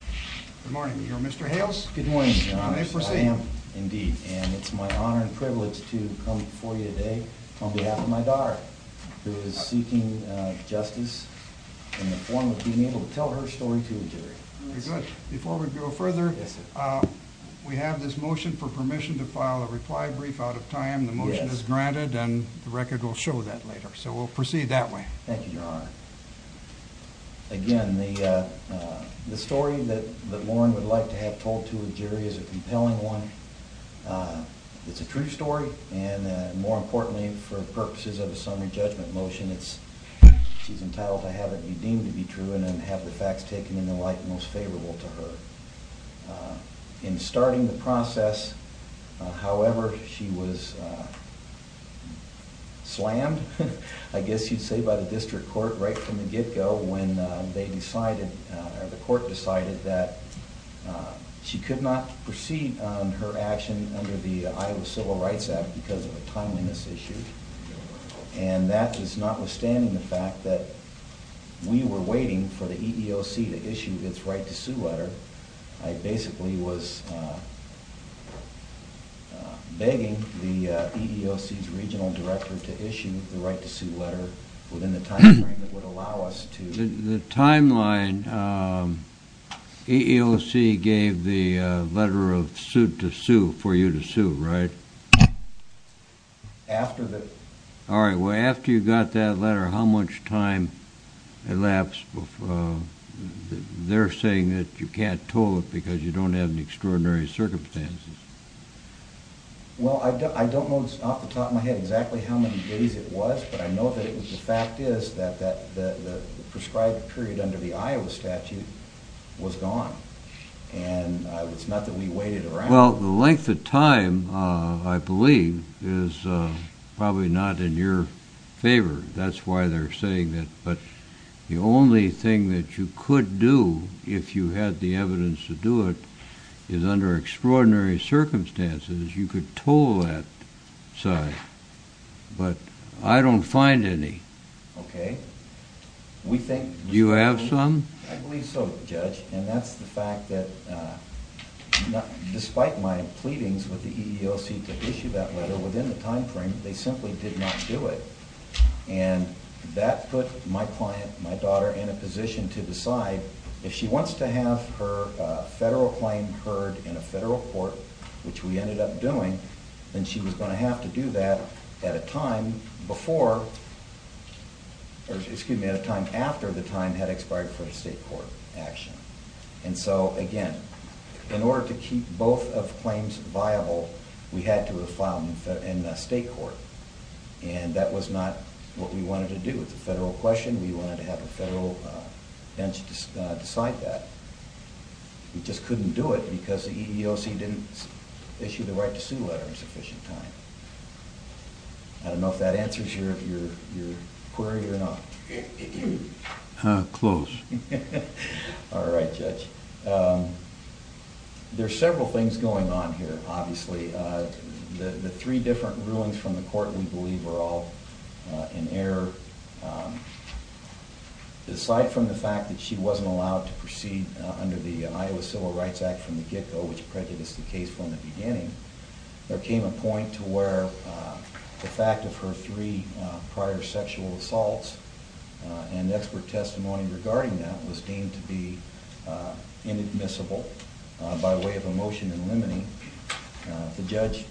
Good morning, you're Mr. Hales? Good morning, your honor. I am, indeed, and it's my honor and privilege to come before you today on behalf of my daughter, who is seeking justice in the form of being able to tell her story to the jury. Very good. Before we go further, we have this motion for permission to file a reply brief out of time. The motion is granted and the record will show that later, so we'll The story that that Lauren would like to have told to a jury is a compelling one. It's a true story and more importantly, for purposes of a summary judgment motion, it's she's entitled to have it be deemed to be true and then have the facts taken in the light most favorable to her. In starting the process, however, she was slammed, I guess you'd say, by the district court right from the get-go when they decided, or the court decided, that she could not proceed on her action under the Iowa Civil Rights Act because of a timeliness issue, and that is notwithstanding the fact that we were waiting for the EEOC to issue its right to sue letter, I basically was begging the EEOC's regional director to issue the right to sue letter within the time frame that would allow us to... The timeline, EEOC gave the letter of suit to sue, for you to sue, right? After the... All right, well, after you got that letter, how much time elapsed before... they're saying that you can't toll it because you don't have any extraordinary circumstances. Well, I don't know off the top of my head exactly how many days it was, but I know that the fact is that the prescribed period under the Iowa statute was gone, and it's not that we waited around. Well, the length of time, I believe, is probably not in your favor. That's why they're saying that, but the only thing that you could do, if you had the evidence to do it, is under extraordinary circumstances, you could pull that. Sorry, but I don't find any. Okay, we think... Do you have some? I believe so, Judge, and that's the fact that, despite my pleadings with the EEOC to issue that letter, within the time frame, they simply did not do it. And that put my client, my daughter, in a position to decide, if she wants to have her federal claim heard in a federal court, which we ended up doing, then she was going to have to do that at a time before, or excuse me, at a time after the time had expired for a state court action. And so, again, in order to keep both of the claims viable, we had to have filed in a state court, and that was not what we wanted to do. It's a federal question. We wanted to have a federal bench decide that. We just couldn't do it because the EEOC didn't issue the right to sue letter. I don't know if that answers your query or not. Close. All right, Judge. There are several things going on here, obviously. The three different rulings from the court, we believe, were all in error. Aside from the fact that she wasn't allowed to proceed under the Iowa Civil Rights Act from the get-go, which prejudiced the case from the beginning, there are came a point to where the fact of her three prior sexual assaults and expert testimony regarding that was deemed to be inadmissible by way of a motion in limine. The judge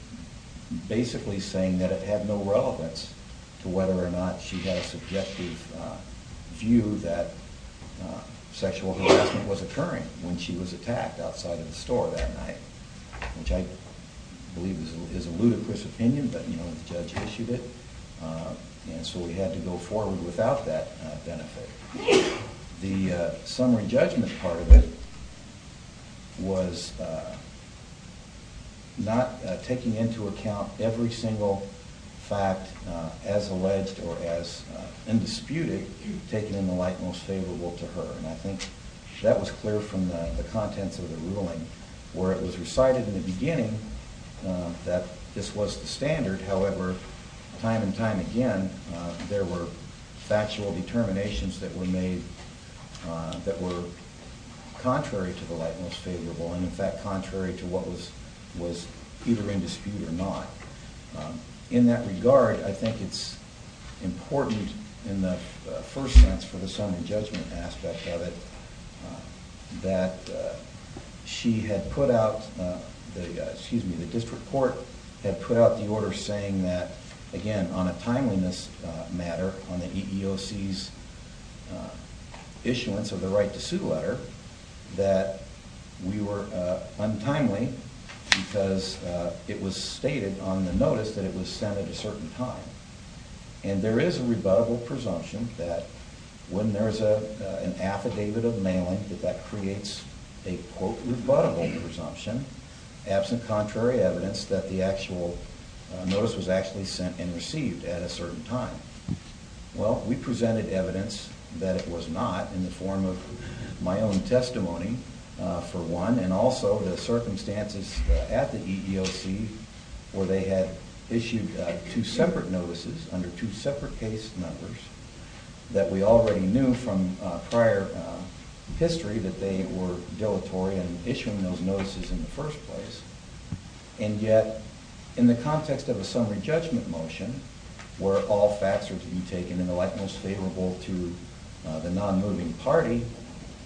basically saying that it had no relevance to whether or not she had a subjective view that sexual harassment was occurring when she was attacked outside of the store that night, which I believe was a little bit of an overstatement. It's a ludicrous opinion, but the judge issued it, and so we had to go forward without that benefit. The summary judgment part of it was not taking into account every single fact as alleged or as indisputed taken in the light most favorable to her, and I think that was clear from the contents of the ruling, where it was recited in the beginning that this was the standard. However, time and time again, there were factual determinations that were made that were contrary to the light most favorable, and in fact contrary to what was either in dispute or not. In that regard, I think it's important in the first sense for the summary judgment aspect of it that she had put out the district court had put out the order saying that again on a timeliness matter on the EEOC's issuance of the right to sue letter that we were untimely because it was stated on the notice that it was sent at a certain time, and there is a rebuttable presumption that when there is an affidavit of mailing that that creates a quote rebuttable presumption absent contrary evidence that the actual notice was actually sent and received at a certain time. Well, we presented evidence that it was not in the form of my own testimony for one, and also the circumstances at the EEOC where they had issued two separate notices under two separate case numbers that we already knew from prior history that they were dilatory in issuing those notices in the first place, and yet in the context of a summary judgment motion where all facts are to be taken in the light most favorable to the non-moving party,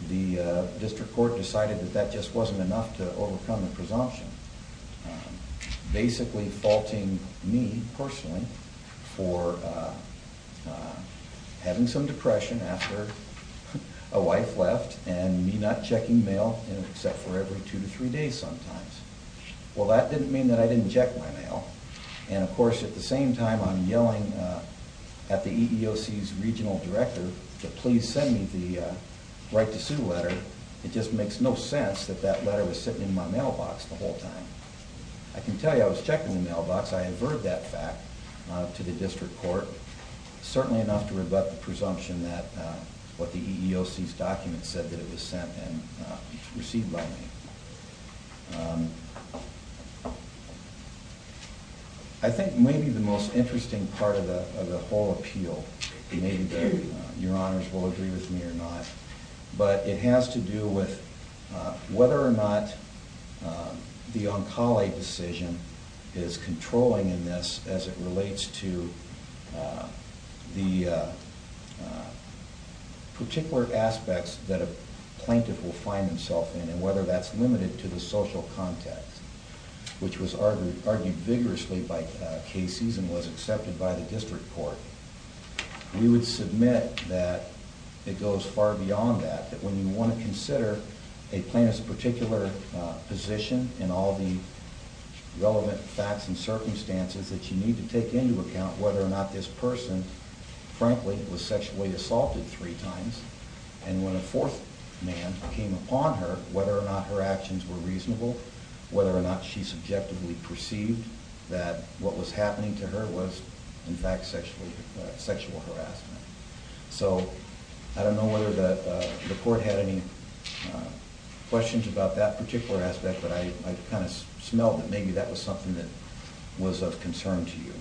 the district court decided that that just wasn't enough to overcome the presumption, basically faulting me personally for having some depression after a wife left and me not checking mail except for every two to three days sometimes. Well, that didn't mean that I didn't check my mail, and of course at the same time I'm yelling at the EEOC's regional director to please send me the right to sue letter. It just makes no sense that that letter was sitting in my mailbox the whole time. I can tell you I was checking the mailbox. I avert that fact to the district court, certainly enough to rebut the presumption that what the EEOC's document said that it was sent and received by me. I think maybe the most interesting part of the whole appeal, maybe your honors will agree with me or not, but it has to do with whether or not the Oncala decision is controlling in this as it relates to the particular aspects that a plaintiff will find themselves in and whether that's limited to the suing. We would submit that it goes far beyond that, that when you want to consider a plaintiff's particular position and all the relevant facts and circumstances, that you need to take into account whether or not this person, frankly, was sexually assaulted three times, and when a fourth man came upon her, whether or not her actions were reasonable. Whether or not she subjectively perceived that what was happening to her was, in fact, sexual harassment. So I don't know whether the court had any questions about that particular aspect, but I kind of smelled that maybe that was something that was of concern to you.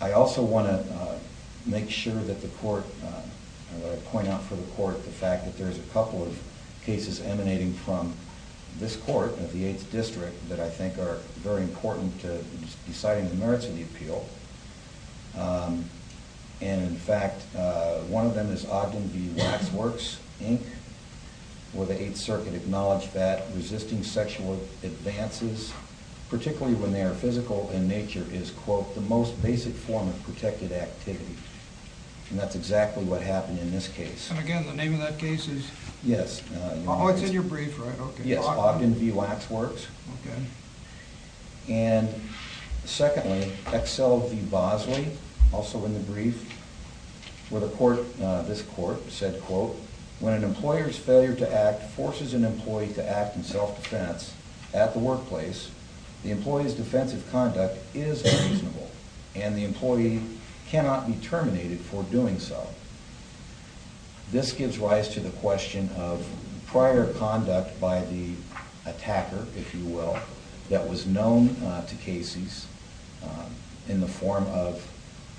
I also want to make sure that the court, I want to point out for the court the fact that there's a couple of cases emanating from this court of the 8th District that I think are very important to deciding the merits of the appeal. And, in fact, one of them is Ogden v. Waxworks, Inc., where the 8th Circuit acknowledged that resisting sexual advances, particularly when they are physical in nature, is, quote, the most basic form of protected activity. And that's exactly what happened in this case. And, again, the name of that case is? Yes. Oh, it's in your brief, right? Yes, Ogden v. Waxworks. Okay. And, secondly, Excel v. Bosley, also in the brief, where the court, this court, said, quote, This gives rise to the question of prior conduct by the attacker, if you will, that was known to cases in the form of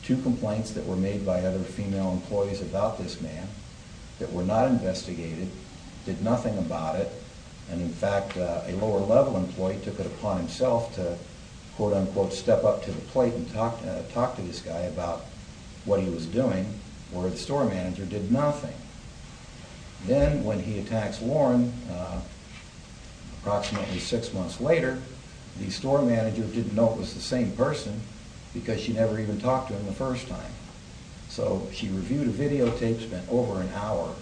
two complaints that were made by other female employees about this man that were not investigated, did nothing about it. And, in fact, a lower-level employee took it upon himself to, quote, unquote, step up to the plate and talk to this guy about what he was doing, where the store manager did nothing. Then, when he attacks Warren, approximately six months later, the store manager didn't know it was the same person because she never even talked to him the first time. So she reviewed a videotape spent over an hour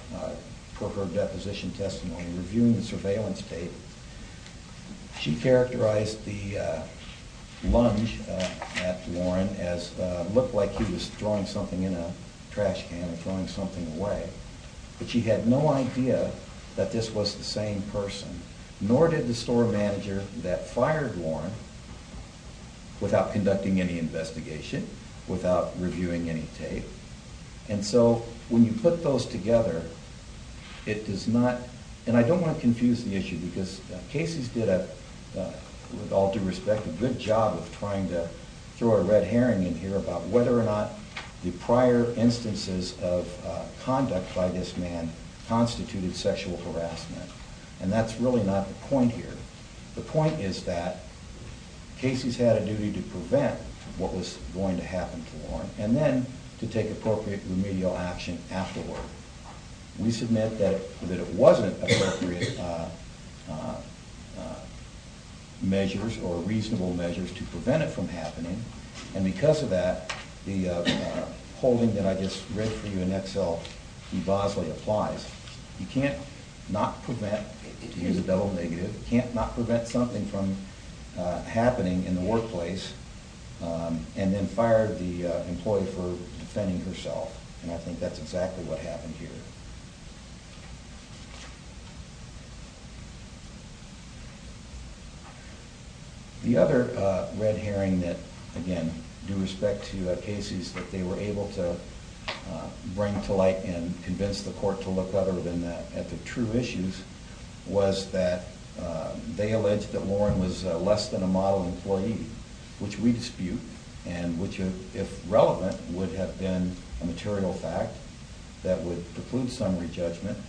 for her deposition testimony, reviewing the surveillance tape. She characterized the lunge at Warren as looked like he was throwing something in a trash can or throwing something away. But she had no idea that this was the same person, nor did the store manager that fired Warren without conducting any investigation, without reviewing any tape. And so, when you put those together, it does not, and I don't want to confuse the issue because Cases did a, with all due respect, a good job of trying to throw a red herring in here about whether or not the prior instances of conduct by this man constituted sexual harassment. And that's really not the point here. The point is that Cases had a duty to prevent what was going to happen to Warren and then to take appropriate remedial action afterward. We submit that it wasn't appropriate measures or reasonable measures to prevent it from happening. And because of that, the holding that I just read for you in Excel, E. Bosley applies. You can't not prevent, to use a double negative, you can't not prevent something from happening in the workplace and then fire the employee for defending herself. And I think that's exactly what happened here. The other red herring that, again, due respect to Cases, that they were able to bring to light and convince the court to look other than that at the true issues was that they alleged that Warren was less than a model employee, which we dispute. And which, if relevant, would have been a material fact that would preclude summary judgment.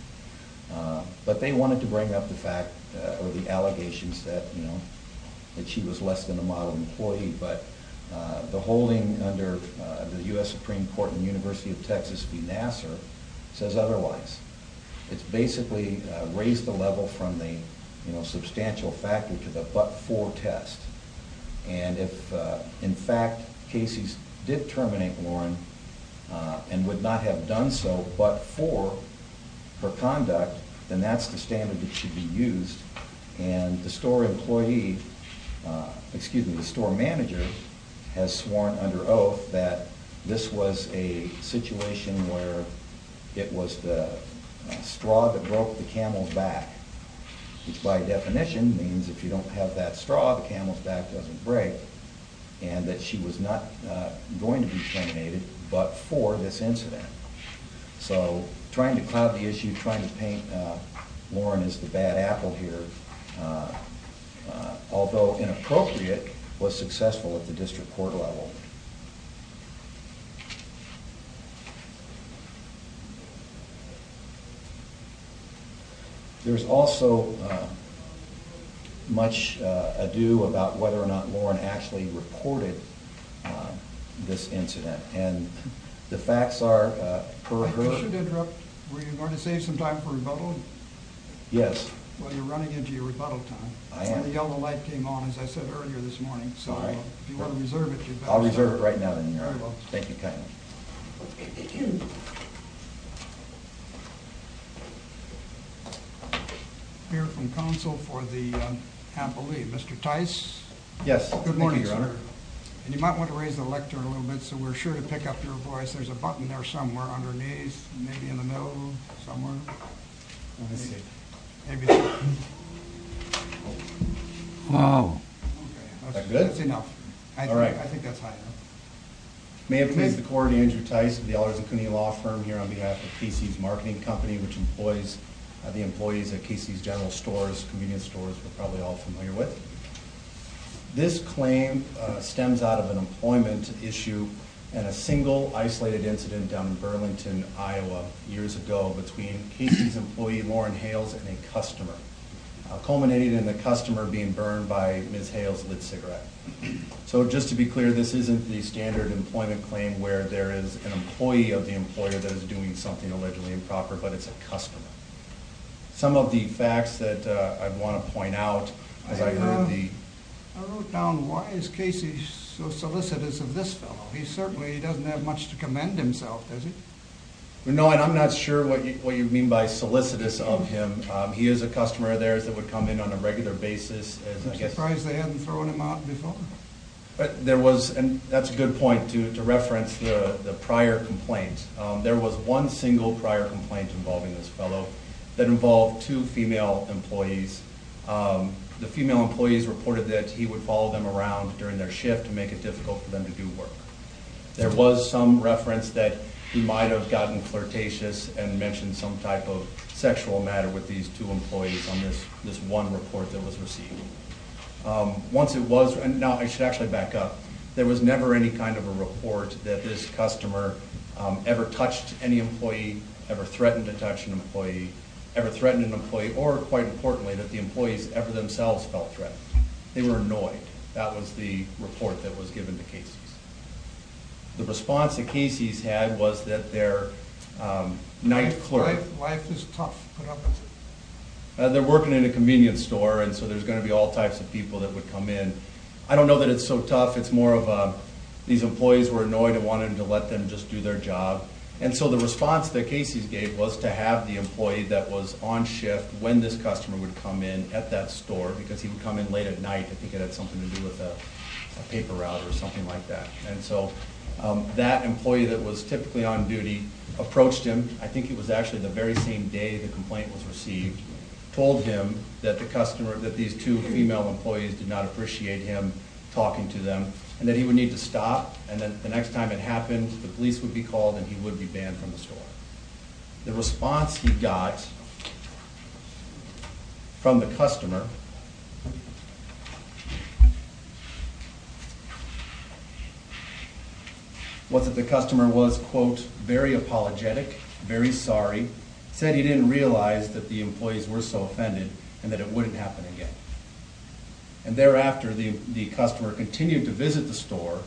But they wanted to bring up the fact, or the allegations, that she was less than a model employee. But the holding under the U.S. Supreme Court in the University of Texas v. Nassar says otherwise. It's basically raised the level from the substantial factor to the but-for test. And if, in fact, Cases did terminate Warren and would not have done so but for her conduct, then that's the standard that should be used. And the store manager has sworn under oath that this was a situation where it was the straw that broke the camel's back. Which, by definition, means if you don't have that straw, the camel's back doesn't break. And that she was not going to be terminated but for this incident. So trying to cloud the issue, trying to paint Warren as the bad apple here, although inappropriate, was successful at the district court level. There's also much ado about whether or not Warren actually reported this incident. And the facts are, per her... I should interrupt. Were you going to save some time for rebuttal? Yes. Well, you're running into your rebuttal time. The yellow light came on, as I said earlier this morning, so if you want to reserve it... I'll reserve it right now, then. Very well. Thank you kindly. I'm here from counsel for the... I can't believe... Mr. Tice? Yes. Good morning, sir. Thank you, Your Honor. And you might want to raise the lectern a little bit so we're sure to pick up your voice. There's a button there somewhere underneath, maybe in the middle, somewhere. Let me see. Maybe there. Oh. Okay. Is that good? That's enough. All right. I think that's high enough. May it please the Court, Andrew Tice of the Ellers and Cooney Law Firm here on behalf of Casey's Marketing Company, which employs the employees at Casey's General Stores, convenience stores we're probably all familiar with. This claim stems out of an employment issue and a single isolated incident down in Burlington, Iowa years ago between Casey's employee, Lauren Hales, and a customer, culminating in the customer being burned by Ms. Hales' lit cigarette. So just to be clear, this isn't the standard employment claim where there is an employee of the employer that is doing something allegedly improper, but it's a customer. Some of the facts that I want to point out, as I heard the— I wrote down why is Casey so solicitous of this fellow. He certainly doesn't have much to commend himself, does he? No, and I'm not sure what you mean by solicitous of him. He is a customer of theirs that would come in on a regular basis. I'm surprised they hadn't thrown him out before. But there was—and that's a good point to reference the prior complaint. There was one single prior complaint involving this fellow that involved two female employees. The female employees reported that he would follow them around during their shift to make it difficult for them to do work. There was some reference that he might have gotten flirtatious and mentioned some type of sexual matter with these two employees on this one report that was received. Once it was—and now I should actually back up. There was never any kind of a report that this customer ever touched any employee, ever threatened to touch an employee, ever threatened an employee, or, quite importantly, that the employees ever themselves felt threatened. They were annoyed. That was the report that was given to Casey's. The response that Casey's had was that their night clerk— Life is tough. They're working in a convenience store, and so there's going to be all types of people that would come in. I don't know that it's so tough. It's more of these employees were annoyed and wanted to let them just do their job. And so the response that Casey's gave was to have the employee that was on shift, when this customer would come in at that store, because he would come in late at night. I think it had something to do with a paper route or something like that. And so that employee that was typically on duty approached him. I think it was actually the very same day the complaint was received. He told him that these two female employees did not appreciate him talking to them and that he would need to stop, and that the next time it happened, the police would be called and he would be banned from the store. The response he got from the customer was that the customer was, quote, very apologetic, very sorry, said he didn't realize that the employees were so offended and that it wouldn't happen again. And thereafter, the customer continued to visit the store,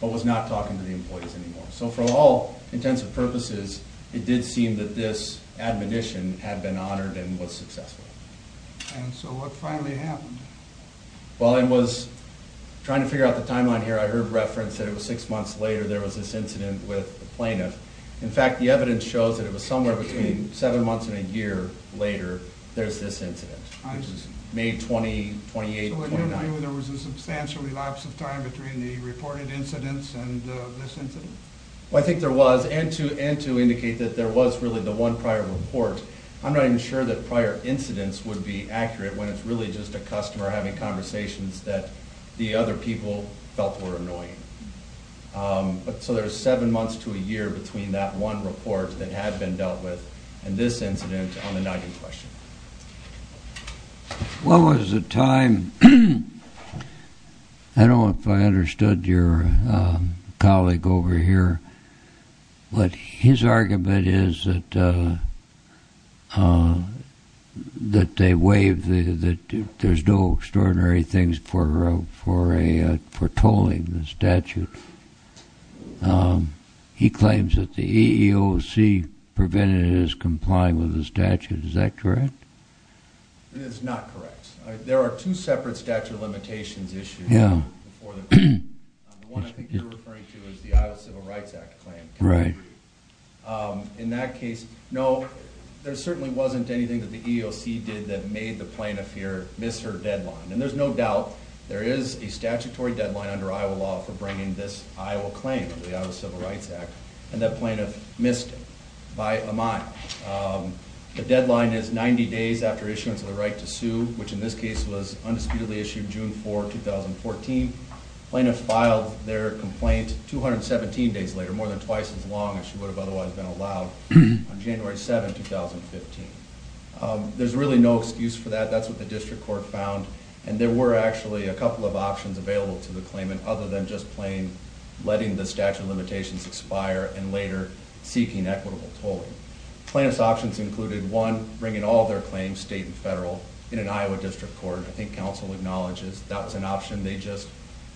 but was not talking to the employees anymore. So for all intents and purposes, it did seem that this admonition had been honored and was successful. And so what finally happened? Well, I was trying to figure out the timeline here. I heard reference that it was six months later there was this incident with the plaintiff. In fact, the evidence shows that it was somewhere between seven months and a year later there's this incident, which is May 20, 28, 29. So in your view, there was a substantial relapse of time between the reported incidents and this incident? Well, I think there was, and to indicate that there was really the one prior report. I'm not even sure that prior incidents would be accurate when it's really just a customer having conversations that the other people felt were annoying. So there's seven months to a year between that one report that had been dealt with and this incident on the nugget question. What was the time? I don't know if I understood your colleague over here, but his argument is that there's no extraordinary things for tolling the statute. He claims that the EEOC prevented his complying with the statute. Is that correct? It is not correct. There are two separate statute of limitations issues before the court. The one I think you're referring to is the Iowa Civil Rights Act claim. Right. In that case, no, there certainly wasn't anything that the EEOC did that made the plaintiff here miss her deadline. And there's no doubt there is a statutory deadline under Iowa law for bringing this Iowa claim, the Iowa Civil Rights Act, and that plaintiff missed it by a mile. The deadline is 90 days after issuance of the right to sue, which in this case was undisputedly issued June 4, 2014. Plaintiff filed their complaint 217 days later, more than twice as long as she would have otherwise been allowed, on January 7, 2015. There's really no excuse for that. That's what the district court found. And there were actually a couple of options available to the claimant other than just plain letting the statute of limitations expire and later seeking equitable tolling. Plaintiff's options included, one, bringing all their claims, state and federal, in an Iowa district court. I think counsel acknowledges that was an option they just,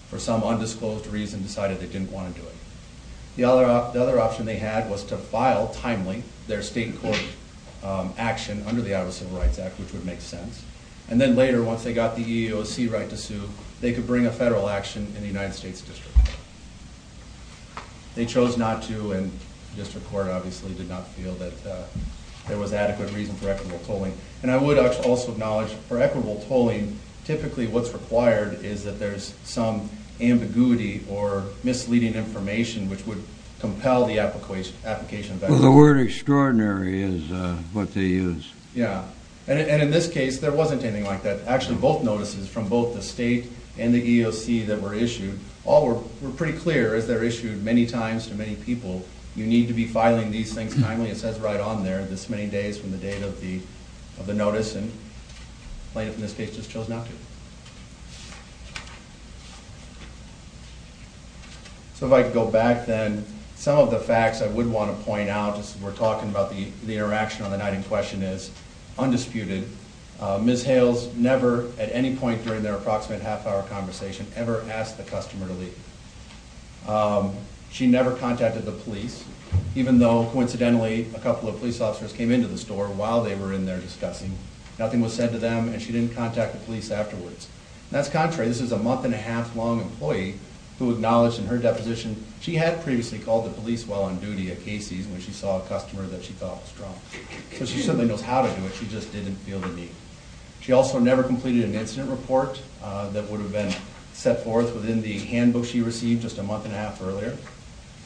for some undisclosed reason, decided they didn't want to do it. The other option they had was to file timely their state court action under the Iowa Civil Rights Act, which would make sense. And then later, once they got the EEOC right to sue, they could bring a federal action in the United States District Court. They chose not to, and the district court obviously did not feel that there was adequate reason for equitable tolling. And I would also acknowledge, for equitable tolling, typically what's required is that there's some ambiguity or misleading information which would compel the application. Well, the word extraordinary is what they use. Yeah. And in this case, there wasn't anything like that. Actually, both notices from both the state and the EEOC that were issued, all were pretty clear, as they're issued many times to many people, you need to be filing these things timely. It says right on there, this many days from the date of the notice, and plaintiff in this case just chose not to. So if I could go back then, some of the facts I would want to point out as we're talking about the interaction on the night in question is, undisputed, Ms. Hales never, at any point during their approximate half-hour conversation, ever asked the customer to leave. She never contacted the police, even though, coincidentally, a couple of police officers came into the store while they were in there discussing. Nothing was said to them, and she didn't contact the police afterwards. That's contrary. This is a month-and-a-half long employee who acknowledged in her deposition, she had previously called the police while on duty at Casey's when she saw a customer that she thought was drunk. So she certainly knows how to do it, she just didn't feel the need. She also never completed an incident report that would have been set forth within the handbook she received just a month-and-a-half earlier.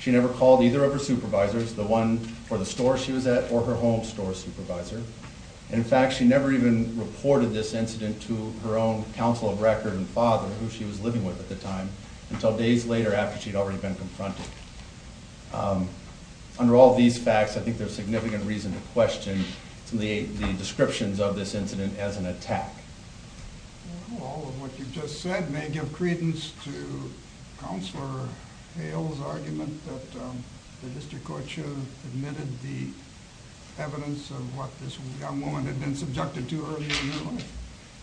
She never called either of her supervisors, the one for the store she was at or her home store supervisor. In fact, she never even reported this incident to her own counsel of record and father, who she was living with at the time, until days later after she'd already been confronted. Under all these facts, I think there's significant reason to question the descriptions of this incident as an attack. All of what you've just said may give credence to Counselor Hale's argument that the district court should have admitted the evidence of what this young woman had been subjected to earlier in her life.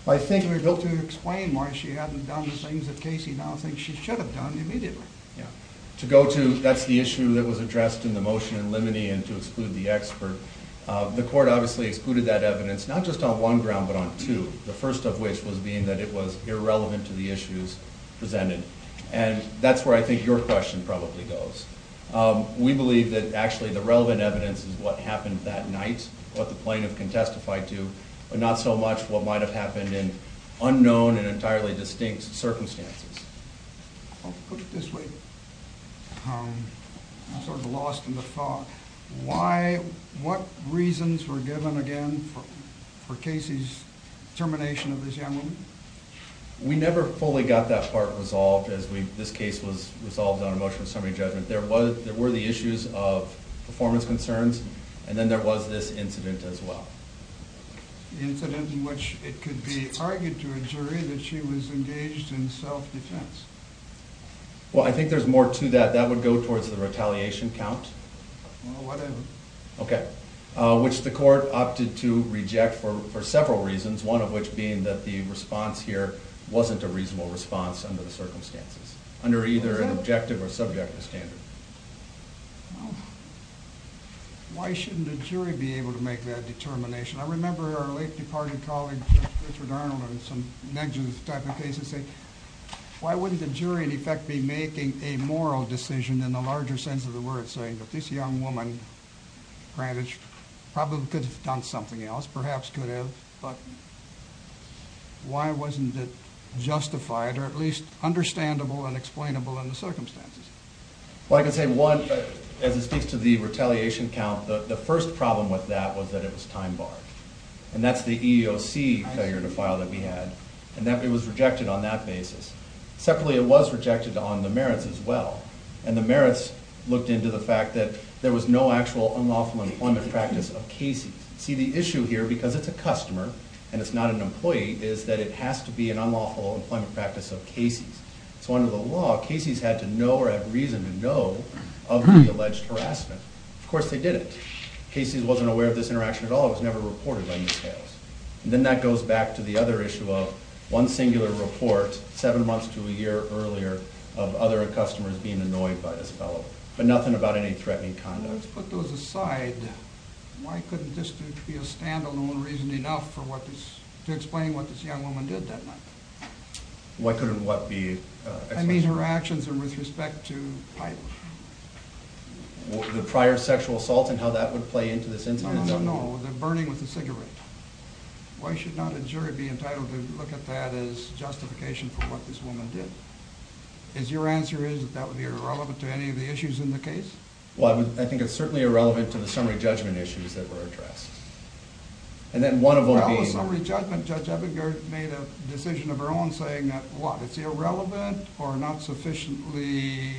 I think we're able to explain why she hadn't done the things that Casey now thinks she should have done immediately. Yeah. To go to, that's the issue that was addressed in the motion in Lemony and to exclude the expert. The court obviously excluded that evidence not just on one ground, but on two. The first of which was being that it was irrelevant to the issues presented. And that's where I think your question probably goes. We believe that actually the relevant evidence is what happened that night, what the plaintiff can testify to, but not so much what might have happened in unknown and entirely distinct circumstances. I'll put it this way. I'm sort of lost in the thought. What reasons were given, again, for Casey's termination of this young woman? We never fully got that part resolved as this case was resolved on a motion of summary judgment. There were the issues of performance concerns, and then there was this incident as well. The incident in which it could be argued to a jury that she was engaged in self-defense. Well, I think there's more to that. That would go towards the retaliation count. Well, whatever. Okay. Which the court opted to reject for several reasons, one of which being that the response here wasn't a reasonable response under the circumstances, under either an objective or subjective standard. Well, why shouldn't a jury be able to make that determination? I remember our late departed colleague Richard Arnold in some negligent type of cases saying, why wouldn't the jury in effect be making a moral decision in the larger sense of the word, saying that this young woman, granted, probably could have done something else, perhaps could have, but why wasn't it justified or at least understandable and explainable in the circumstances? Well, I can say one, as it speaks to the retaliation count, the first problem with that was that it was time barred. And that's the EEOC failure to file that we had, and it was rejected on that basis. Separately, it was rejected on the merits as well. And the merits looked into the fact that there was no actual unlawful employment practice of Casey's. See, the issue here, because it's a customer and it's not an employee, is that it has to be an unlawful employment practice of Casey's. So under the law, Casey's had to know or have reason to know of the alleged harassment. Of course they didn't. Casey's wasn't aware of this interaction at all. It was never reported on the scales. And then that goes back to the other issue of one singular report, seven months to a year earlier, of other customers being annoyed by this fellow. But nothing about any threatening conduct. Let's put those aside. Why couldn't this be a standalone reason enough to explain what this young woman did that night? Why couldn't what be? I mean her actions with respect to pipe. The prior sexual assault and how that would play into this incident? No, no, no. The burning with the cigarette. Why should not a jury be entitled to look at that as justification for what this woman did? Is your answer is that that would be irrelevant to any of the issues in the case? Well, I think it's certainly irrelevant to the summary judgment issues that were addressed. And then one of them being... How was summary judgment, Judge Ebinger, made a decision of her own saying that, what, it's irrelevant or not sufficiently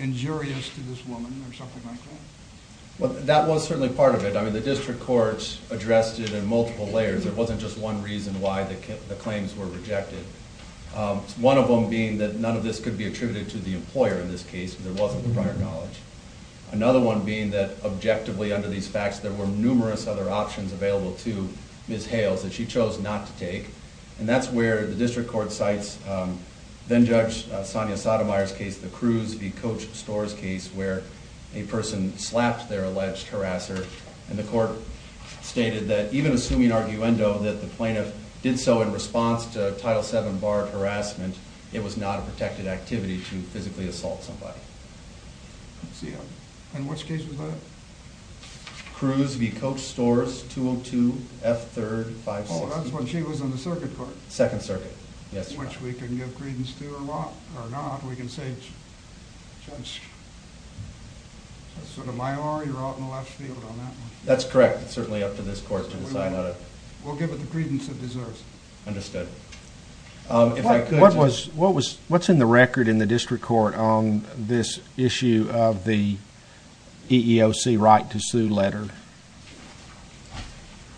injurious to this woman or something like that? Well, that was certainly part of it. I mean the district courts addressed it in multiple layers. It wasn't just one reason why the claims were rejected. One of them being that none of this could be attributed to the employer in this case. There wasn't the prior knowledge. Another one being that, objectively, under these facts, there were numerous other options available to Ms. Hales that she chose not to take. And that's where the district court cites then-Judge Sonia Sotomayor's case, the Cruz v. Coach Storrs case, where a person slapped their alleged harasser. And the court stated that, even assuming arguendo, that the plaintiff did so in response to Title VII barred harassment, it was not a protected activity to physically assault somebody. Let's see. In which case was that? Cruz v. Coach Storrs, 202 F. 3rd, 560. Oh, that's when she was on the circuit court. Second circuit, yes. Which we can give credence to or not. We can say, Judge Sotomayor, you're out in the left field on that one. That's correct. It's certainly up to this court to decide how to- We'll give it the credence it deserves. Understood. What's in the record in the district court on this issue of the EEOC right to sue letter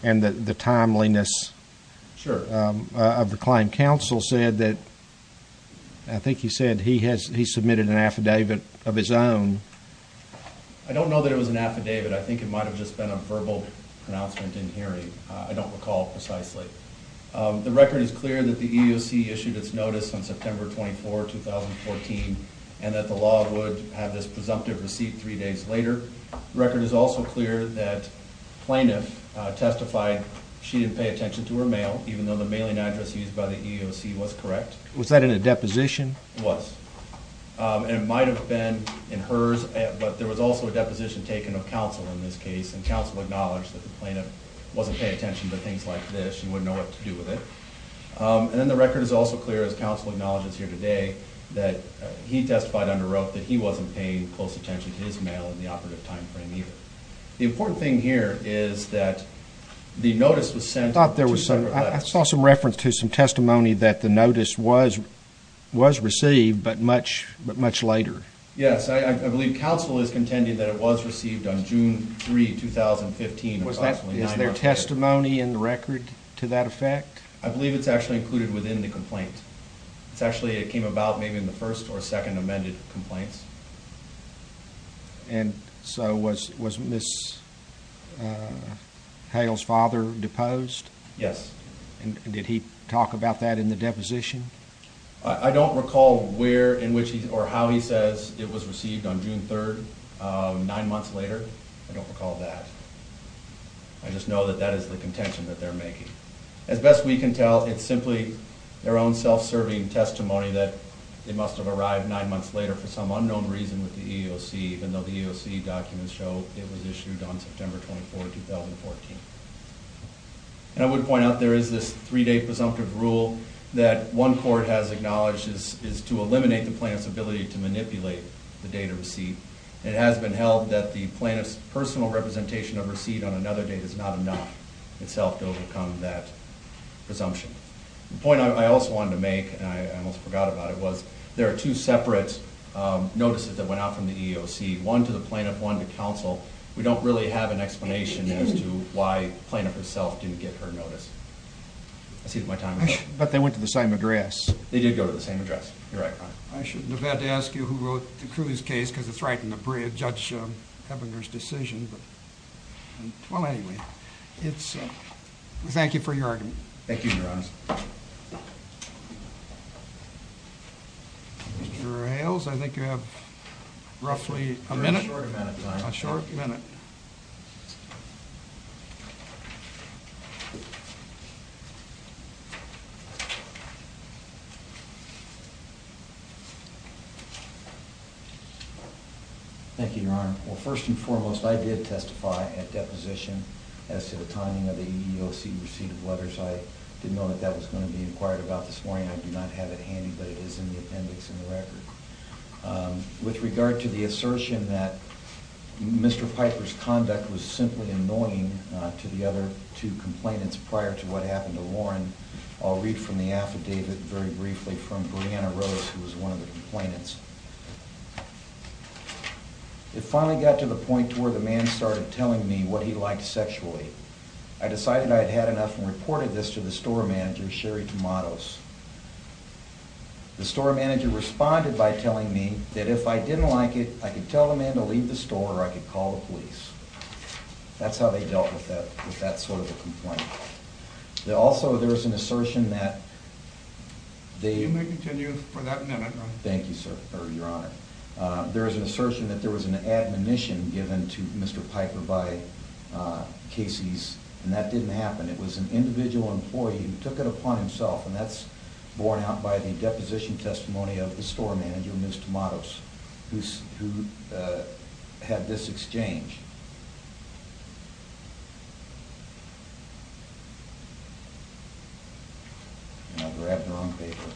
and the timeliness of the claim? Counsel said that-I think he said he submitted an affidavit of his own. I don't know that it was an affidavit. I think it might have just been a verbal pronouncement in hearing. I don't recall precisely. The record is clear that the EEOC issued its notice on September 24, 2014, and that the law would have this presumptive receipt three days later. The record is also clear that plaintiff testified she didn't pay attention to her mail, even though the mailing address used by the EEOC was correct. Was that in a deposition? It was. It might have been in hers, but there was also a deposition taken of counsel in this case, and counsel acknowledged that the plaintiff wasn't paying attention to things like this. She wouldn't know what to do with it. And then the record is also clear, as counsel acknowledges here today, that he testified under oath that he wasn't paying close attention to his mail in the operative time frame either. The important thing here is that the notice was sent- I saw some reference to some testimony that the notice was received, but much later. Yes, I believe counsel is contending that it was received on June 3, 2015. Is there testimony in the record to that effect? I believe it's actually included within the complaint. It actually came about maybe in the first or second amended complaints. And so was Ms. Hale's father deposed? Yes. And did he talk about that in the deposition? I don't recall where or how he says it was received on June 3, nine months later. I don't recall that. I just know that that is the contention that they're making. As best we can tell, it's simply their own self-serving testimony that it must have arrived nine months later for some unknown reason with the EEOC, even though the EEOC documents show it was issued on September 24, 2014. And I would point out there is this three-day presumptive rule that one court has acknowledged is to eliminate the plaintiff's ability to manipulate the date of receipt. It has been held that the plaintiff's personal representation of receipt on another date is not enough itself to overcome that presumption. The point I also wanted to make, and I almost forgot about it, was there are two separate notices that went out from the EEOC, one to the plaintiff, one to counsel. We don't really have an explanation as to why the plaintiff herself didn't get her notice. I see that my time is up. But they went to the same address. They did go to the same address. You're right. I shouldn't have had to ask you who wrote the Cruz case because it's right in the breadth of Judge Hebinger's decision. Well, anyway, thank you for your argument. Thank you, Your Honor. Mr. Hales, I think you have roughly a minute. A short amount of time. A short minute. Thank you, Your Honor. Well, first and foremost, I did testify at deposition as to the timing of the EEOC receipt of letters. I didn't know that that was going to be inquired about this morning. I do not have it handy, but it is in the appendix in the record. With regard to the assertion that Mr. Piper's conduct was simply annoying to the other two complainants prior to what happened to Lauren, I'll read from the affidavit very briefly from Brianna Rose, who was one of the complainants. It finally got to the point where the man started telling me what he liked sexually. I decided I'd had enough and reported this to the store manager, Sherry Tomatos. The store manager responded by telling me that if I didn't like it, I could tell the man to leave the store or I could call the police. That's how they dealt with that sort of a complaint. Also, there is an assertion that... You may continue for that minute. Thank you, Your Honor. There is an assertion that there was an admonition given to Mr. Piper by Casey's, and that didn't happen. It was an individual employee who took it upon himself, and that's borne out by the deposition testimony of the store manager, Ms. Tomatos, who had this exchange. I grabbed the wrong paper.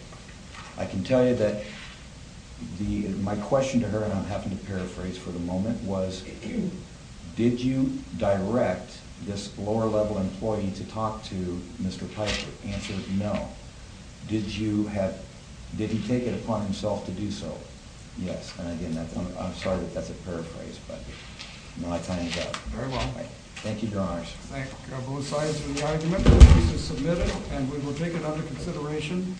I can tell you that my question to her, and I'll happen to paraphrase for the moment, was, did you direct this lower-level employee to talk to Mr. Piper? The answer is no. Did he take it upon himself to do so? Yes. And again, I'm sorry that that's a paraphrase, but my time is up. Very well. Thank you, Your Honors. Thank both sides for the argument. This is submitted, and we will take it under consideration.